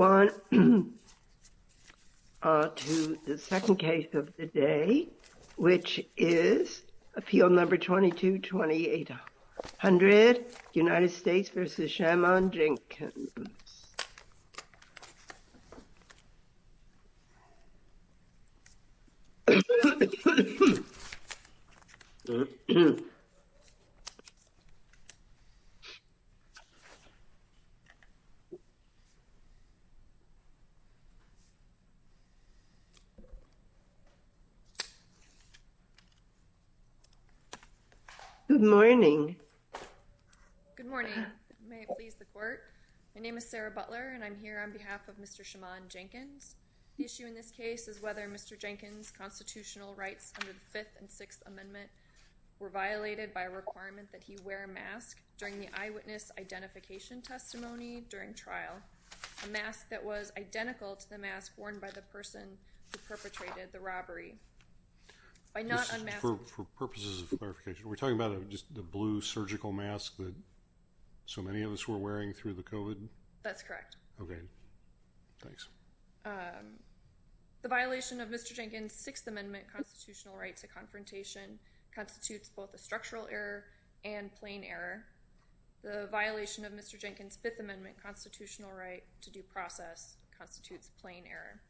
on to the second case of the day, which is appeal number 22-2800, United States v. Shamond Jenkins. Good morning. Good morning. My name is Sarah Butler and I'm here on behalf of Mr. Shamond Jenkins. The issue in this case is whether Mr. Jenkins' constitutional rights under the Fifth and Sixth Amendment were violated by a requirement that he wear a mask during the eyewitness identification testimony during trial. A mask that was identical to the mask worn by the person who surgical mask that so many of us were wearing through the COVID? That's correct. Okay, thanks. The violation of Mr. Jenkins' Sixth Amendment constitutional right to confrontation constitutes both a structural error and plain error. The violation of Mr. Jenkins' Fifth Amendment constitutional right to due process constitutes plain error.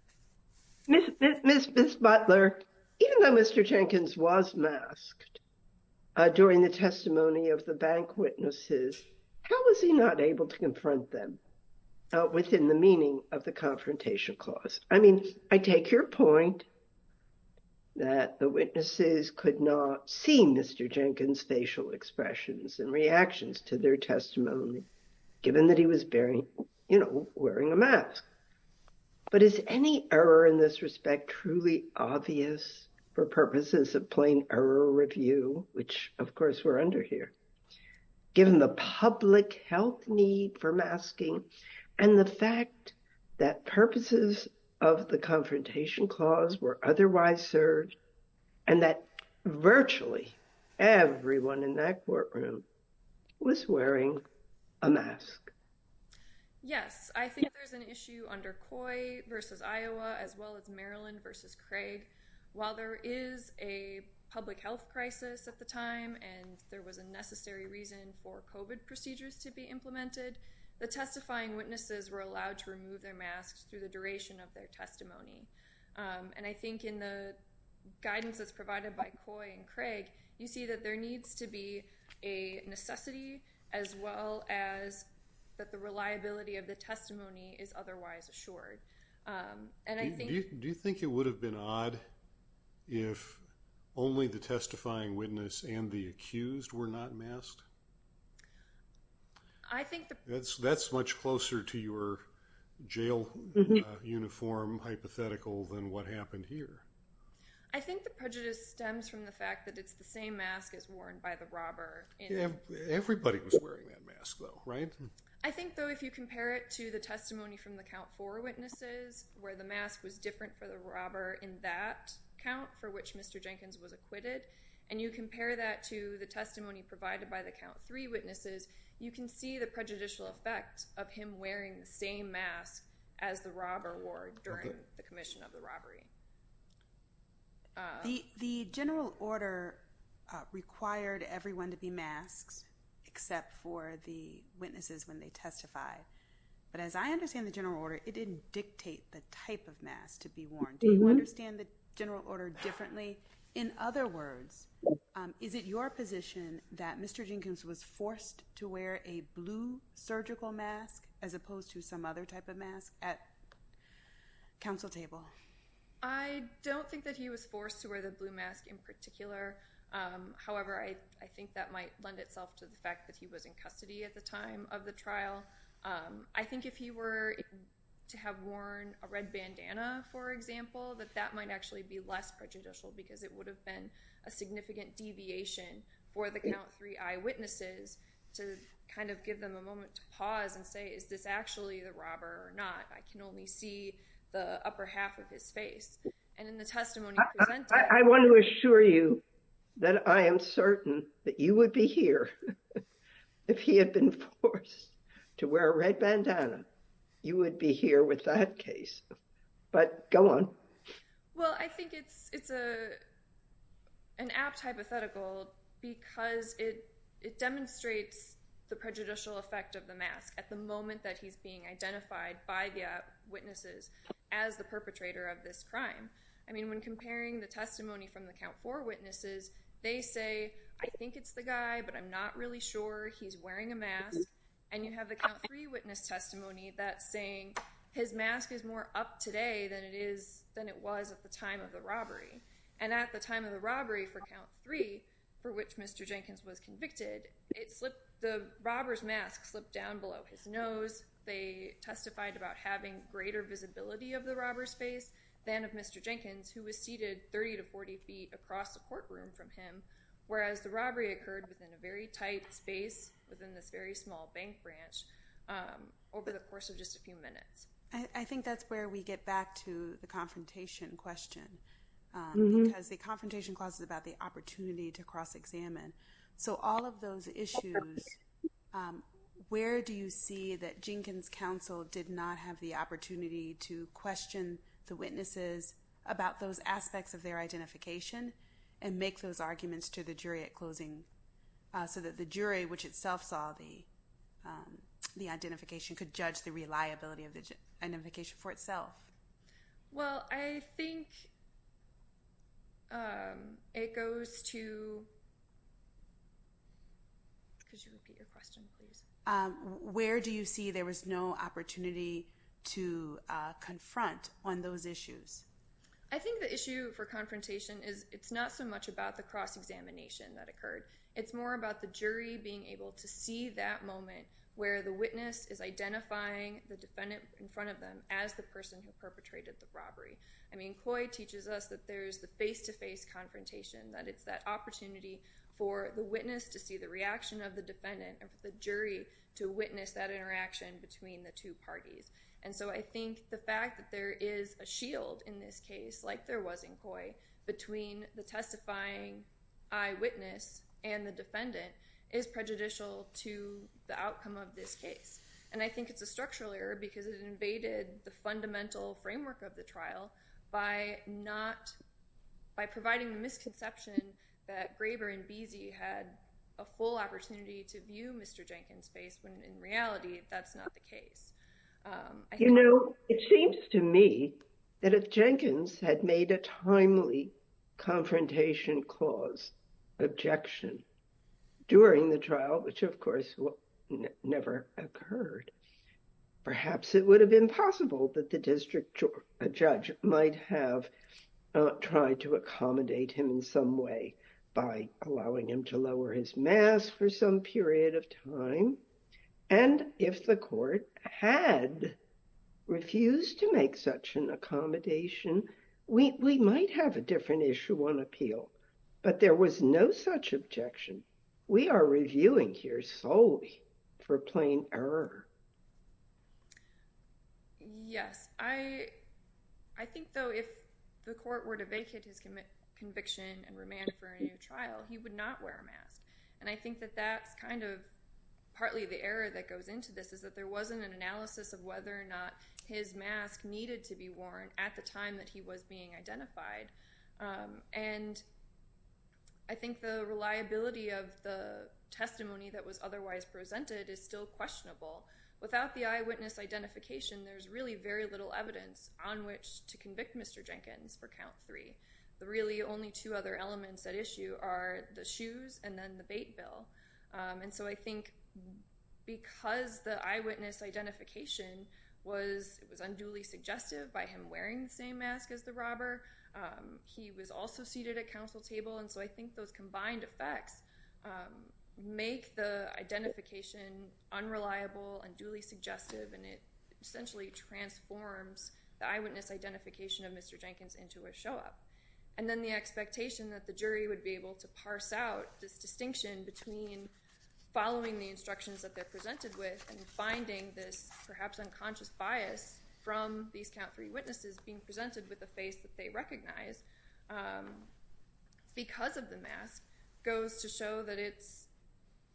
Ms. Butler, even though Mr. Jenkins was the bank witnesses, how was he not able to confront them within the meaning of the confrontation clause? I mean, I take your point that the witnesses could not see Mr. Jenkins' facial expressions and reactions to their testimony, given that he was bearing, you know, wearing a mask. But is any error in this respect truly obvious for purposes of plain error review, which of course we're under here, given the public health need for masking and the fact that purposes of the confrontation clause were otherwise served and that virtually everyone in that courtroom was wearing a mask? Yes, I think there's an issue under Coy versus Iowa as well as Maryland versus Craig. While there is a public health crisis at the time and there was a necessary reason for COVID procedures to be implemented, the testifying witnesses were allowed to remove their masks through the duration of their testimony. And I think in the guidance that's provided by Coy and Craig, you see that there needs to be a necessity as well as that the reliability of the testimony is otherwise assured. Do you think it would have been odd if only the testifying witness and the accused were not masked? That's much closer to your jail uniform hypothetical than what happened here. I think the prejudice stems from the fact that it's the same mask as worn by the robber. I think though if you compare it to the testimony from the count four witnesses where the mask was different for the robber in that count for which Mr. Jenkins was acquitted and you compare that to the testimony provided by the count three witnesses, you can see the prejudicial effect of him wearing the same mask as the robber wore during the required everyone to be masks except for the witnesses when they testify. But as I understand the general order, it didn't dictate the type of mask to be worn. Do you understand the general order differently? In other words, is it your position that Mr. Jenkins was forced to wear a blue surgical mask as opposed to some other type of mask at counsel table? I don't think that he was forced to wear the blue mask in particular. However, I think that might lend itself to the fact that he was in custody at the time of the trial. I think if he were to have worn a red bandana, for example, that that might actually be less prejudicial because it would have been a significant deviation for the count three eyewitnesses to kind of give them a moment to pause and say is this actually the robber or not? I can only see the upper half of his face and in the I want to assure you that I am certain that you would be here if he had been forced to wear a red bandana. You would be here with that case, but go on. Well, I think it's it's a an apt hypothetical because it it demonstrates the prejudicial effect of the mask at the moment that he's being identified by the witnesses as the perpetrator of this crime. I mean, when comparing the testimony from the count for witnesses, they say, I think it's the guy, but I'm not really sure he's wearing a mask. And you have the three witness testimony that's saying his mask is more up today than it is than it was at the time of the robbery. And at the time of the robbery for count three, for which Mr Jenkins was convicted, it slipped. The robber's mask slipped down below his testified about having greater visibility of the robber's face than of Mr. Jenkins, who was seated 30 to 40 feet across the courtroom from him, whereas the robbery occurred within a very tight space within this very small bank branch over the course of just a few minutes. I think that's where we get back to the confrontation question because the confrontation clauses about the opportunity to cross examine. So all of those issues, where do you see that counsel did not have the opportunity to question the witnesses about those aspects of their identification and make those arguments to the jury at closing so that the jury, which itself saw the, um, the identification could judge the reliability of the identification for itself? Well, I think um, it goes to where do you see there was no opportunity to confront on those issues? I think the issue for confrontation is it's not so much about the cross examination that occurred. It's more about the jury being able to see that moment where the witness is identifying the defendant in front of them as the person who perpetrated the robbery. I mean, Coy teaches us that there's the opportunity for the witness to see the reaction of the defendant and for the jury to witness that interaction between the two parties. And so I think the fact that there is a shield in this case, like there was in Coy between the testifying eyewitness and the defendant is prejudicial to the outcome of this case. And I think it's a structural error because it invaded the fundamental that Graber and Beese had a full opportunity to view Mr. Jenkins face when in reality, that's not the case. Um, you know, it seems to me that if Jenkins had made a timely confrontation clause objection during the trial, which of course never occurred, perhaps it would have been possible that the by allowing him to lower his mask for some period of time. And if the court had refused to make such an accommodation, we might have a different issue on appeal. But there was no such objection. We are reviewing here solely for plain error. Yes, I, I think though, if the court were to vacate his conviction and remand for a new trial, he would not wear a mask. And I think that that's kind of partly the error that goes into this is that there wasn't an analysis of whether or not his mask needed to be worn at the time that he was being identified. Um, and I think the reliability of the testimony that was otherwise presented is still questionable. Without the eyewitness identification, there's really very little evidence on which to convict Mr Jenkins for count three. The really only two other elements that issue are the shoes and then the bait bill. Um, and so I think because the eyewitness identification was, it was unduly suggestive by him wearing the same mask as the robber. Um, he was also seated at council table. And so I think those combined effects, um, make the identification unreliable and duly suggestive. And it essentially transforms the eyewitness identification of Mr Jenkins into a show up. And then the expectation that the jury would be able to parse out this distinction between following the instructions that they're presented with and finding this perhaps unconscious bias from these count three witnesses being presented with the face that they recognize, um, because of the mask goes to show that it's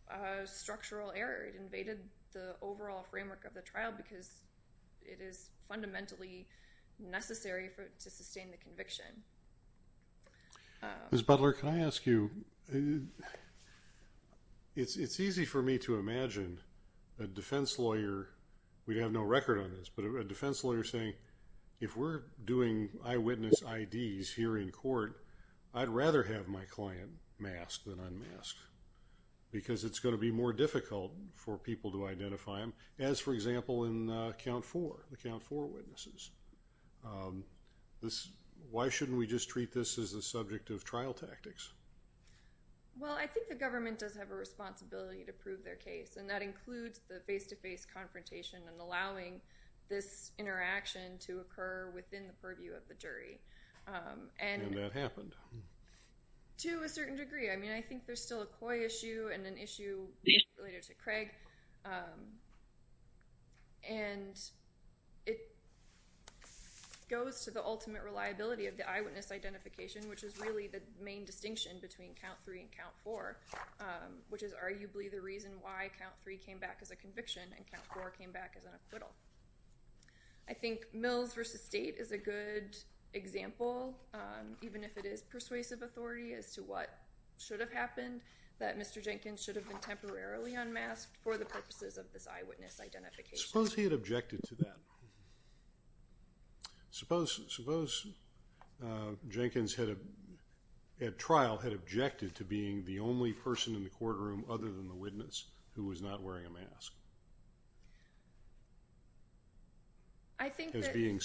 a structural error. It invaded the overall framework of the trial because it is fundamentally necessary for to sustain the conviction. Ms Butler, can I ask you? It's easy for me to imagine a defense lawyer. We have no record on this, but a defense lawyer saying if we're doing eyewitness IDs here in court, I'd rather have my client mask than unmask because it's going to be more than, uh, count four, the count four witnesses. Um, this, why shouldn't we just treat this as a subject of trial tactics? Well, I think the government does have a responsibility to prove their case and that includes the face-to-face confrontation and allowing this interaction to occur within the purview of the jury. Um, and... And that happened. To a certain degree. I mean, I think there's still a COI issue and an issue related to Craig. Um, and it goes to the ultimate reliability of the eyewitness identification, which is really the main distinction between count three and count four, um, which is arguably the reason why count three came back as a conviction and count four came back as an acquittal. I think Mills v. State is a good example, um, even if it is persuasive authority as to what should have happened, that Mr. Jenkins should have been temporarily unmasked for the purposes of this eyewitness identification. Suppose he had objected to that. Suppose, suppose, uh, Jenkins had, at trial, had objected to being the only person in the courtroom other than the witness who was not wearing a mask. I think that... I think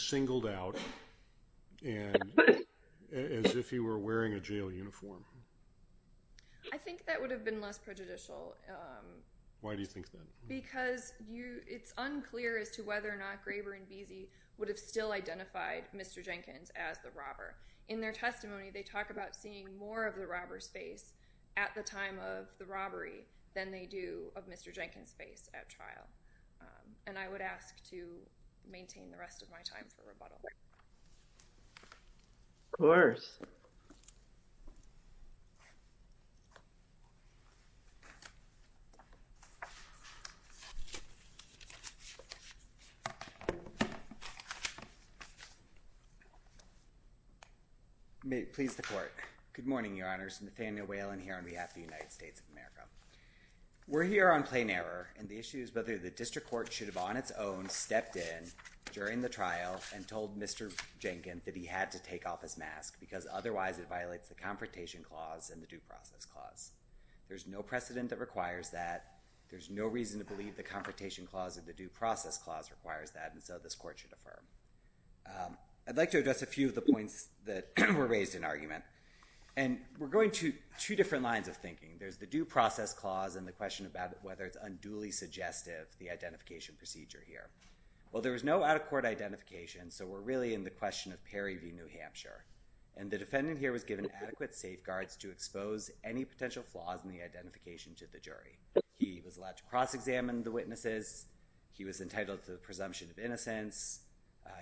that would have been less prejudicial, um... Why do you think that? Because you... it's unclear as to whether or not Graber and Veazey would have still identified Mr. Jenkins as the robber. In their testimony, they talk about seeing more of the robber's face at the time of the robbery than they do of Mr. Jenkins' face at trial. Um, and I would ask to maintain the rest of my time for rebuttal. Of course. May it please the Court. Good morning, Your Honors. Nathaniel Whalen here on behalf of the United States of America. We're here on plain error and the issue is whether the district court should have on its own stepped in during the trial and told Mr. Jenkins that he had to take off his mask because otherwise it violates the Confrontation Clause and the Due Process Clause. There's no precedent that requires that. There's no reason to believe the Confrontation Clause or the Due Process Clause requires that, and so this Court should affirm. Um, I'd like to address a few of the points that were raised in argument. And we're going to two different lines of thinking. There's the Due Process Clause and the question about whether it's unduly suggestive, the identification procedure here. Well, there was no out-of-court identification, so we're really in the question of Perry v. New Hampshire. And the defendant here was given adequate safeguards to expose any potential flaws in the identification to the jury. He was allowed to cross-examine the witnesses. He was entitled to the presumption of innocence.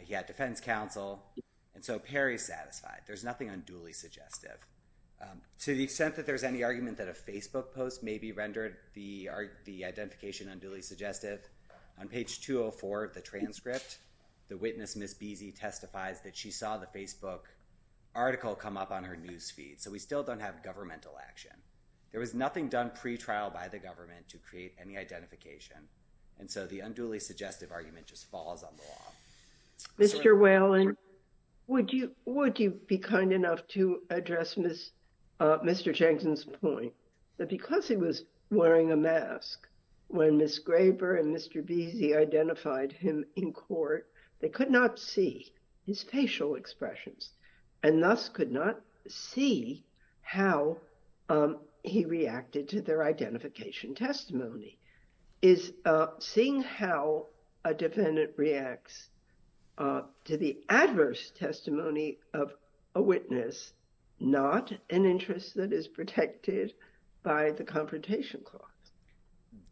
He had defense counsel. And so Perry's satisfied. There's nothing unduly suggestive. Um, to the extent that there's any argument that a Facebook post may be rendered the identification unduly suggestive, on page 204 of the transcript, the witness, Ms. Beezy, testifies that she saw the Facebook article come up on her news feed. So we still don't have governmental action. There was nothing done pretrial by the government to create any identification. And so the unduly suggestive argument just falls on the law. Mr. Whalen, would you be kind enough to address Mr. Changston's point that because he was wearing a mask when Ms. Graber and Mr. Beezy identified him in court, they could not see his facial expressions and thus could not see how he reacted to their identification testimony? Is seeing how a defendant reacts to the adverse testimony of a witness not an interest that is protected by the Confrontation Clause?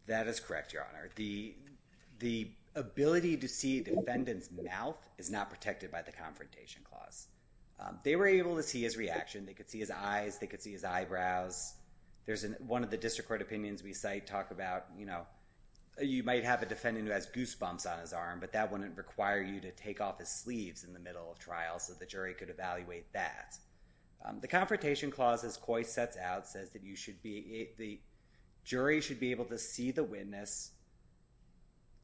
That is correct, Your Honor. The ability to see the defendant's mouth is not protected by the Confrontation Clause. They were able to see his reaction. They could see his eyes. They could see his eyebrows. There's one of the district court opinions we cite talk about, you know, you might have a defendant who has goose bumps on his arm, but that wouldn't require you to take off his sleeves in the middle of trial so the jury could evaluate that. The Confrontation Clause, as Coy sets out, says that the jury should be able to see the witness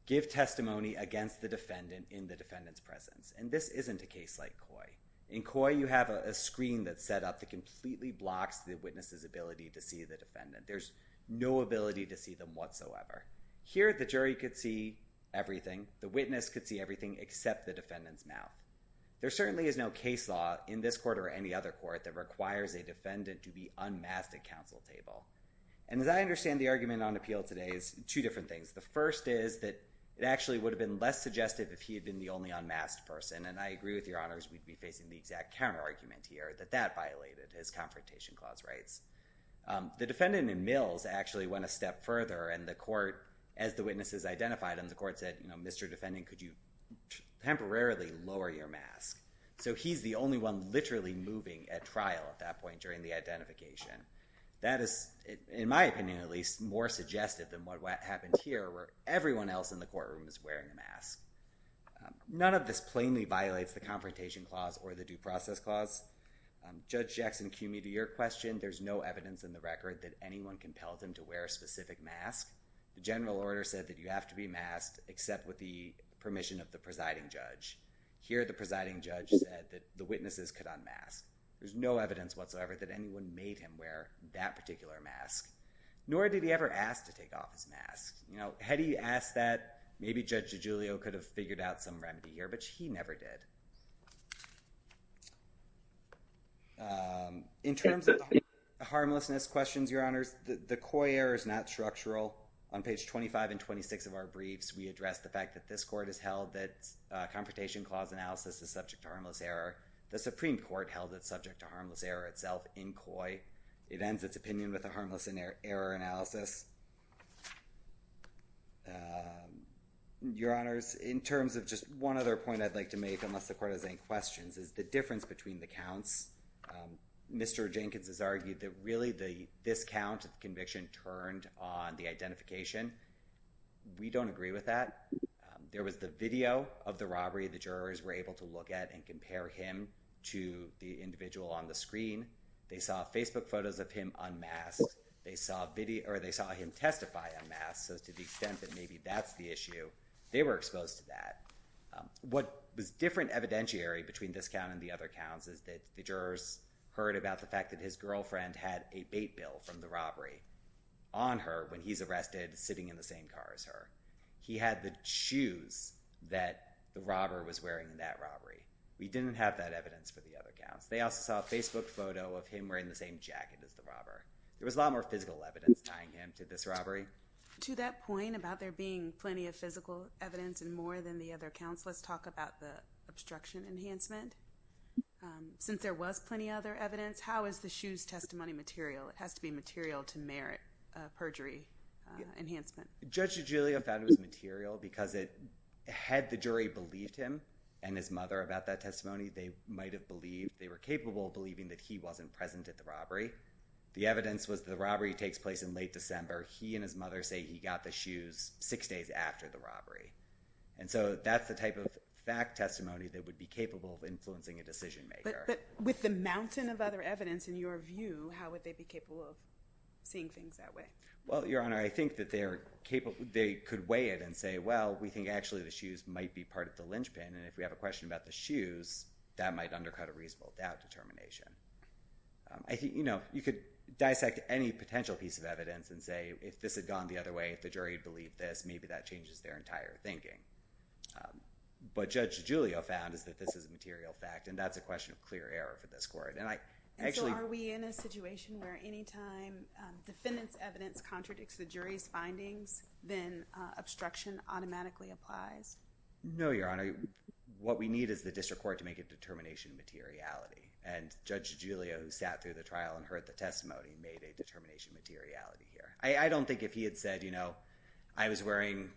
give testimony against the defendant in the defendant's presence. And this isn't a case like Coy. In Coy, you have a screen that's set up that completely blocks the witness's ability to see the defendant. There's no ability to see them whatsoever. Here, the jury could see them. There certainly is no case law in this court or any other court that requires a defendant to be unmasked at counsel table. And as I understand the argument on appeal today, it's two different things. The first is that it actually would have been less suggestive if he had been the only unmasked person. And I agree with Your Honors, we'd be facing the exact counter argument here, that that violated his Confrontation Clause rights. The defendant in Mills actually went a step further, and the court, as the witnesses identified, and the court said, you know, Mr. Defendant, could you temporarily lower your mask? So he's the only one literally moving at trial at that point during the identification. That is, in my opinion at least, more suggestive than what happened here where everyone else in the courtroom is wearing a mask. None of this plainly violates the Confrontation Clause or the Due Process Clause. Judge Jackson, cue me to your question. There's no evidence in the record that anyone compelled him to wear a specific mask. The general order said that you have to be masked except with the permission of the presiding judge. Here the presiding judge said that the witnesses could unmask. There's no evidence whatsoever that anyone made him wear that particular mask, nor did he ever ask to take off his mask. You know, had he asked that, maybe Judge DiGiulio could have figured out some remedy here, but he never did. In terms of the harmlessness questions, Your Honors, the Coy air is not structural. On page 25 and 26 of our briefs, we address the point that Confrontation Clause analysis is subject to harmless error. The Supreme Court held it subject to harmless error itself in Coy. It ends its opinion with a harmless error analysis. Your Honors, in terms of just one other point I'd like to make, unless the Court has any questions, is the difference between the counts. Mr. Jenkins has argued that really this count of conviction turned on the identification. We don't agree with that. There was the video of the robbery the jurors were able to look at and compare him to the individual on the screen. They saw Facebook photos of him unmasked. They saw him testify unmasked, so to the extent that maybe that's the issue, they were exposed to that. What was different evidentiary between this count and the other counts is that the jurors heard about the fact that his girlfriend had a bait bill from the robbery on her when he's arrested sitting in the same car as her. He had the shoes that the robber was wearing in that robbery. We didn't have that evidence for the other counts. They also saw a Facebook photo of him wearing the same jacket as the robber. There was a lot more physical evidence tying him to this robbery. To that point about there being plenty of physical evidence and more than the other counts, let's talk about the obstruction enhancement. Since there was plenty other evidence, how is the shoes testimony material? It has to be material to merit perjury enhancement. Judge DiGiulio found it was material because had the jury believed him and his mother about that testimony, they were capable of believing that he wasn't present at the robbery. The evidence was the robbery takes place in late December. He and his mother say he got the shoes six days after the robbery. That's the type of fact testimony that would be capable of influencing a jury. How would they be capable of seeing things that way? Your Honor, I think they could weigh it and say, well, we think the shoes might be part of the linchpin. If we have a question about the shoes, that might undercut a reasonable doubt determination. You could dissect any potential piece of evidence and say if this had gone the other way, if the jury believed this, maybe that changes their entire thinking. Judge DiGiulio found this is a material fact. That's a question of clear error for this case. Is there a situation where any time defendant's evidence contradicts the jury's findings, then obstruction automatically applies? No, Your Honor. What we need is the district court to make a determination materiality. And Judge DiGiulio sat through the trial and heard the testimony and made a determination materiality here. I don't think if he had said, you know, I was wearing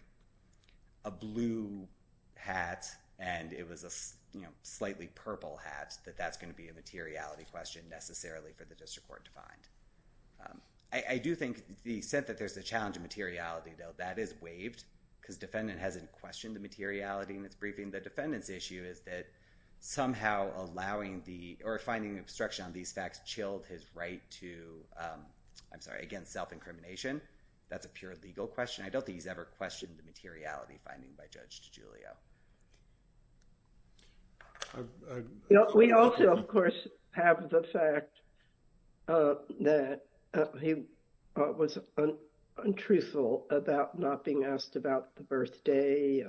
a blue hat and it was a, you know, slightly purple hat that that's going to be a materiality question necessarily for the district court to find. I do think the sense that there's a challenge of materiality, though, that is waived because defendant hasn't questioned the materiality in this briefing. The defendant's issue is that somehow allowing the or finding obstruction on these facts chilled his right to, I'm sorry, against self-incrimination. That's a pure legal question. I don't think he's ever questioned the materiality finding by Judge DiGiulio. We also, of course, have the fact that he was untruthful about not being asked about the birthday.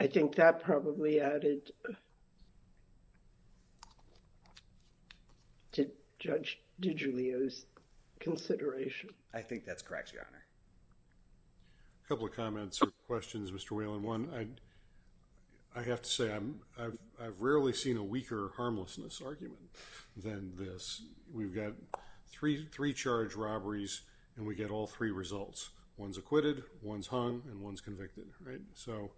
I think that probably added to Judge DiGiulio's consideration. I think that's correct, Your Honor. A couple of comments or questions, Mr. Whalen. One, I have to say I've rarely seen a weaker harmlessness argument than this. We've got three charged robberies and we get all three results. One's acquitted, one's hung, and one's convicted, right? So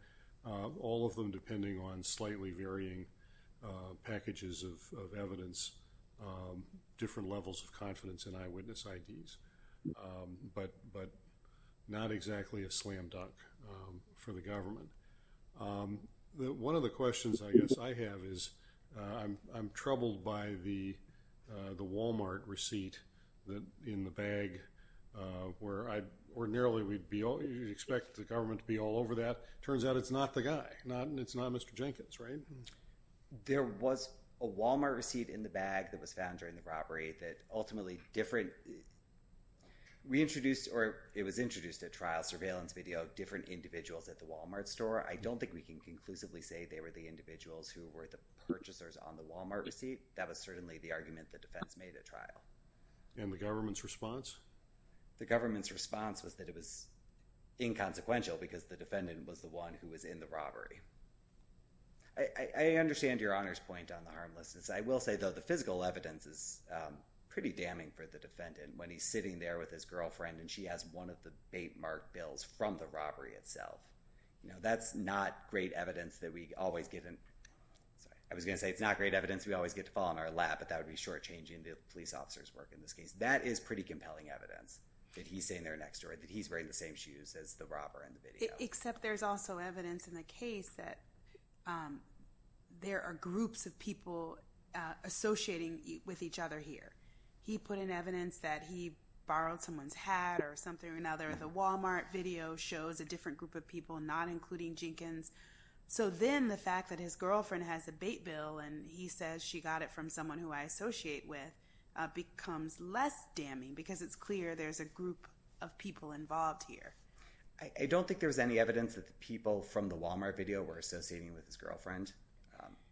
all of them depending on slightly varying packages of evidence, different levels of confidence in eyewitness IDs, but not exactly a slam dunk for the government. One of the questions, I guess, I have is I'm troubled by the Walmart receipt in the bag where ordinarily we'd expect the government to be all over that. Turns out it's not the guy. It's not Mr. Jenkins, right? There was a Walmart receipt in the bag that was found during the robbery that ultimately different, we introduced or it was introduced at trial surveillance video, different individuals at the Walmart store. I don't think we can conclusively say they were the individuals who were the purchasers on the Walmart receipt. That was certainly the argument the defense made at trial. And the government's response? The government's response was that it was inconsequential because the defendant was the one who was in the robbery. I understand Your Honor's point on the harmlessness. I will say though the physical evidence is pretty damning for the defendant when he's sitting there with his girlfriend and she has one of the bait mark bills from the robbery itself. That's not great evidence that we always get in. I was going to say it's not great evidence we always get to fall in our lap, but that would be shortchanging the police officer's work in this case. That is pretty compelling evidence that he's sitting there next door, that he's wearing the same shoes as the robber in the video. Except there's also evidence in the case that there are groups of people associating with each other here. He put in evidence that he borrowed someone's hat or something or another. The Walmart video shows a different group of people, not including Jenkins. So then the fact that his girlfriend has a bait bill and he says she got it from someone who I associate with becomes less damning because it's clear there's a group of people involved here. I don't think there's any evidence that the people from the Walmart video were associating with his girlfriend.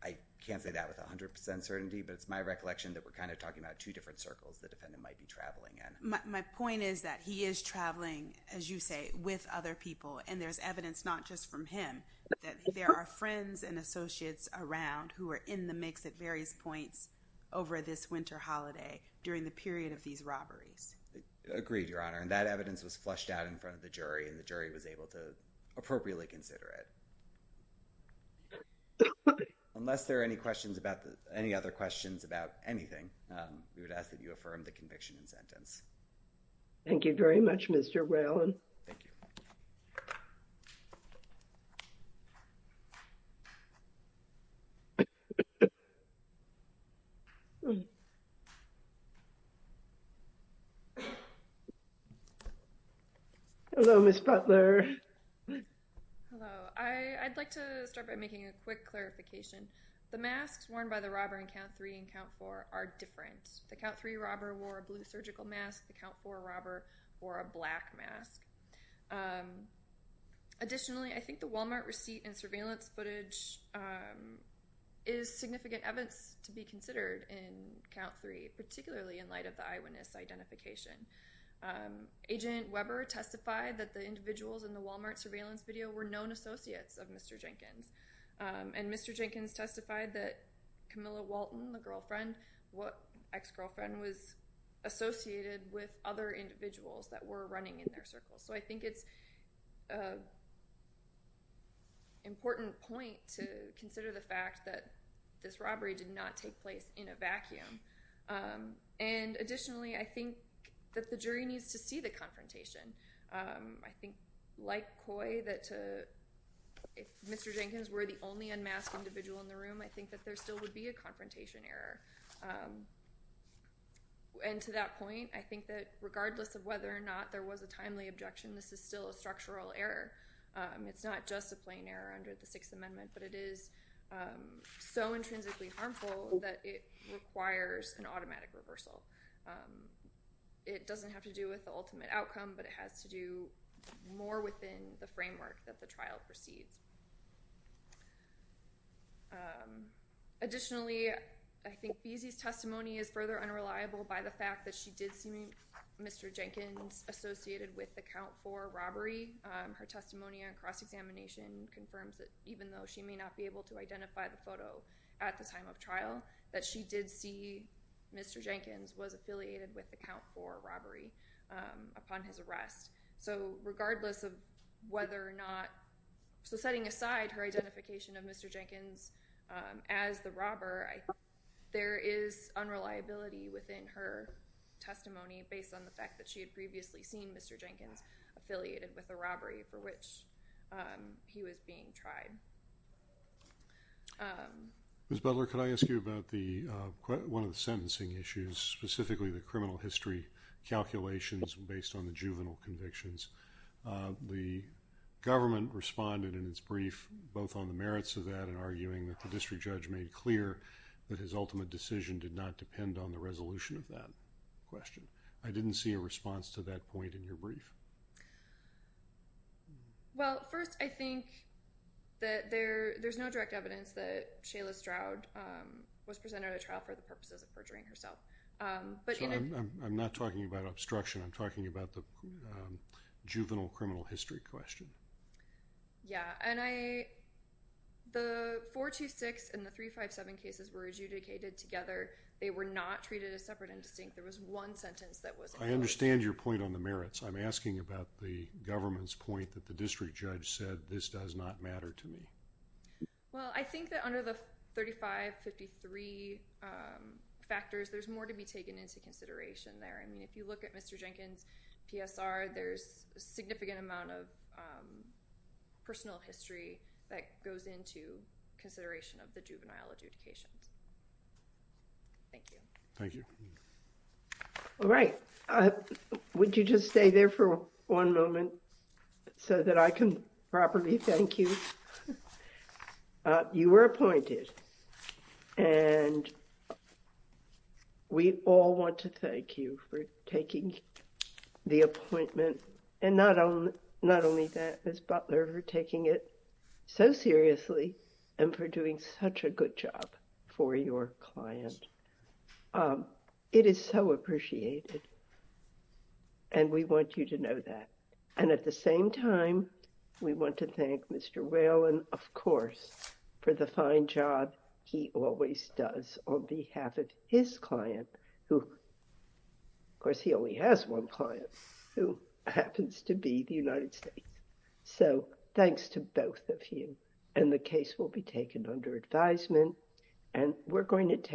I can't say that with 100 percent certainty, but it's my recollection that we're kind of talking about two different circles the defendant might be traveling in. My point is that he is traveling, as you say, with other people and there's evidence not just from him, that there are friends and associates around who are in the mix at various points over this winter holiday during the period of these robberies. So I'm just trying to be as clear as I can with you as to whether or not wanted to make sure that you would be able to see. Agreed. Your honor. And that evidence was flushed out in front of the jury and the jury was able to appropriately consider it. Unless there are any questions about any other questions about anything, we would ask that you affirm the conviction and sentence. Thank you very much. Mr. Well, thank you. Hello, Miss Butler. I'd like to start by making a quick clarification. The masks worn by the robber in count three and count four are different. The count three robber wore a blue surgical mask. The count four robber wore a black mask. Additionally, I think the Walmart receipt and surveillance footage is significant evidence to be considered in count three, particularly in light of the eyewitness identification. Agent Weber testified that the individuals in the Walmart surveillance video were known associates of Mr. Jenkins. And Mr. Jenkins testified that Camilla Walton, the girlfriend, what ex-girlfriend was associated with other individuals that were running in their circles. So I think it's. Important point to consider the fact that this robbery did not take place in a vacuum. And additionally, I think that the jury needs to see the confrontation. I think like Coy that to. If Mr. Jenkins were the only unmasked individual in the room, I think that there still would be a confrontation error. And to that point, I think that regardless of whether or not there was a timely objection, this is still a structural error. It's not just a plain error under the Sixth Amendment, but it is so intrinsically harmful that it requires an automatic reversal. It doesn't have to do with the ultimate outcome, but it has to do more within the framework that the trial proceeds. Additionally, I think Beasley's testimony is further unreliable by the fact that she did see Mr. Jenkins associated with the count for robbery. Her testimony on cross-examination confirms that even though she may not be able to identify the photo at the time of trial, that she did see Mr. Jenkins was affiliated with the count for robbery upon his arrest. So regardless of whether or not. So setting aside her identification of Mr. Jenkins, as the robber, I think there is unreliability within her testimony based on the fact that she had previously seen Mr. Jenkins affiliated with the robbery for which he was being tried. Ms. Butler, can I ask you about one of the sentencing issues, specifically the criminal history calculations based on the juvenile convictions? The government responded in its brief both on the juvenile conviction and the criminal history question. And I'm not sure if you're aware of that, but the judge made clear that his ultimate decision did not depend on the resolution of that question. I didn't see a response to that point in your brief. Well, first, I think that there's no direct evidence that Shayla Stroud was presented at trial for the purposes of perjuring herself. I'm not talking about obstruction. I'm talking about the juvenile criminal history question. Yeah. And I, the 426 and the 357 cases were adjudicated together. They were not treated as separate and distinct. There was one sentence that was. I understand your point on the merits. I'm asking about the government's point that the district judge said this does not matter to me. Well, I think that under the 3553 factors, there's more to be taken into consideration there. I mean, if you look at Mr. Jenkins PSR, there's a significant amount of personal history that goes into consideration of the juvenile adjudications. Thank you. Thank you. All right. Would you just stay there for one moment so that I can properly thank you. You were appointed and we all want to thank you for taking the appointment and not only that, Ms. Butler, for taking it so seriously and for doing such a good job for your client. It is so appreciated and we want you to know that. And at the same time, we want to thank Mr. Whalen, of course, for the fine job he always does on behalf of his client who, of course, he only has one client who happens to be the United States. So thanks to both of you. And the case will be taken under advisement and we're going to take it.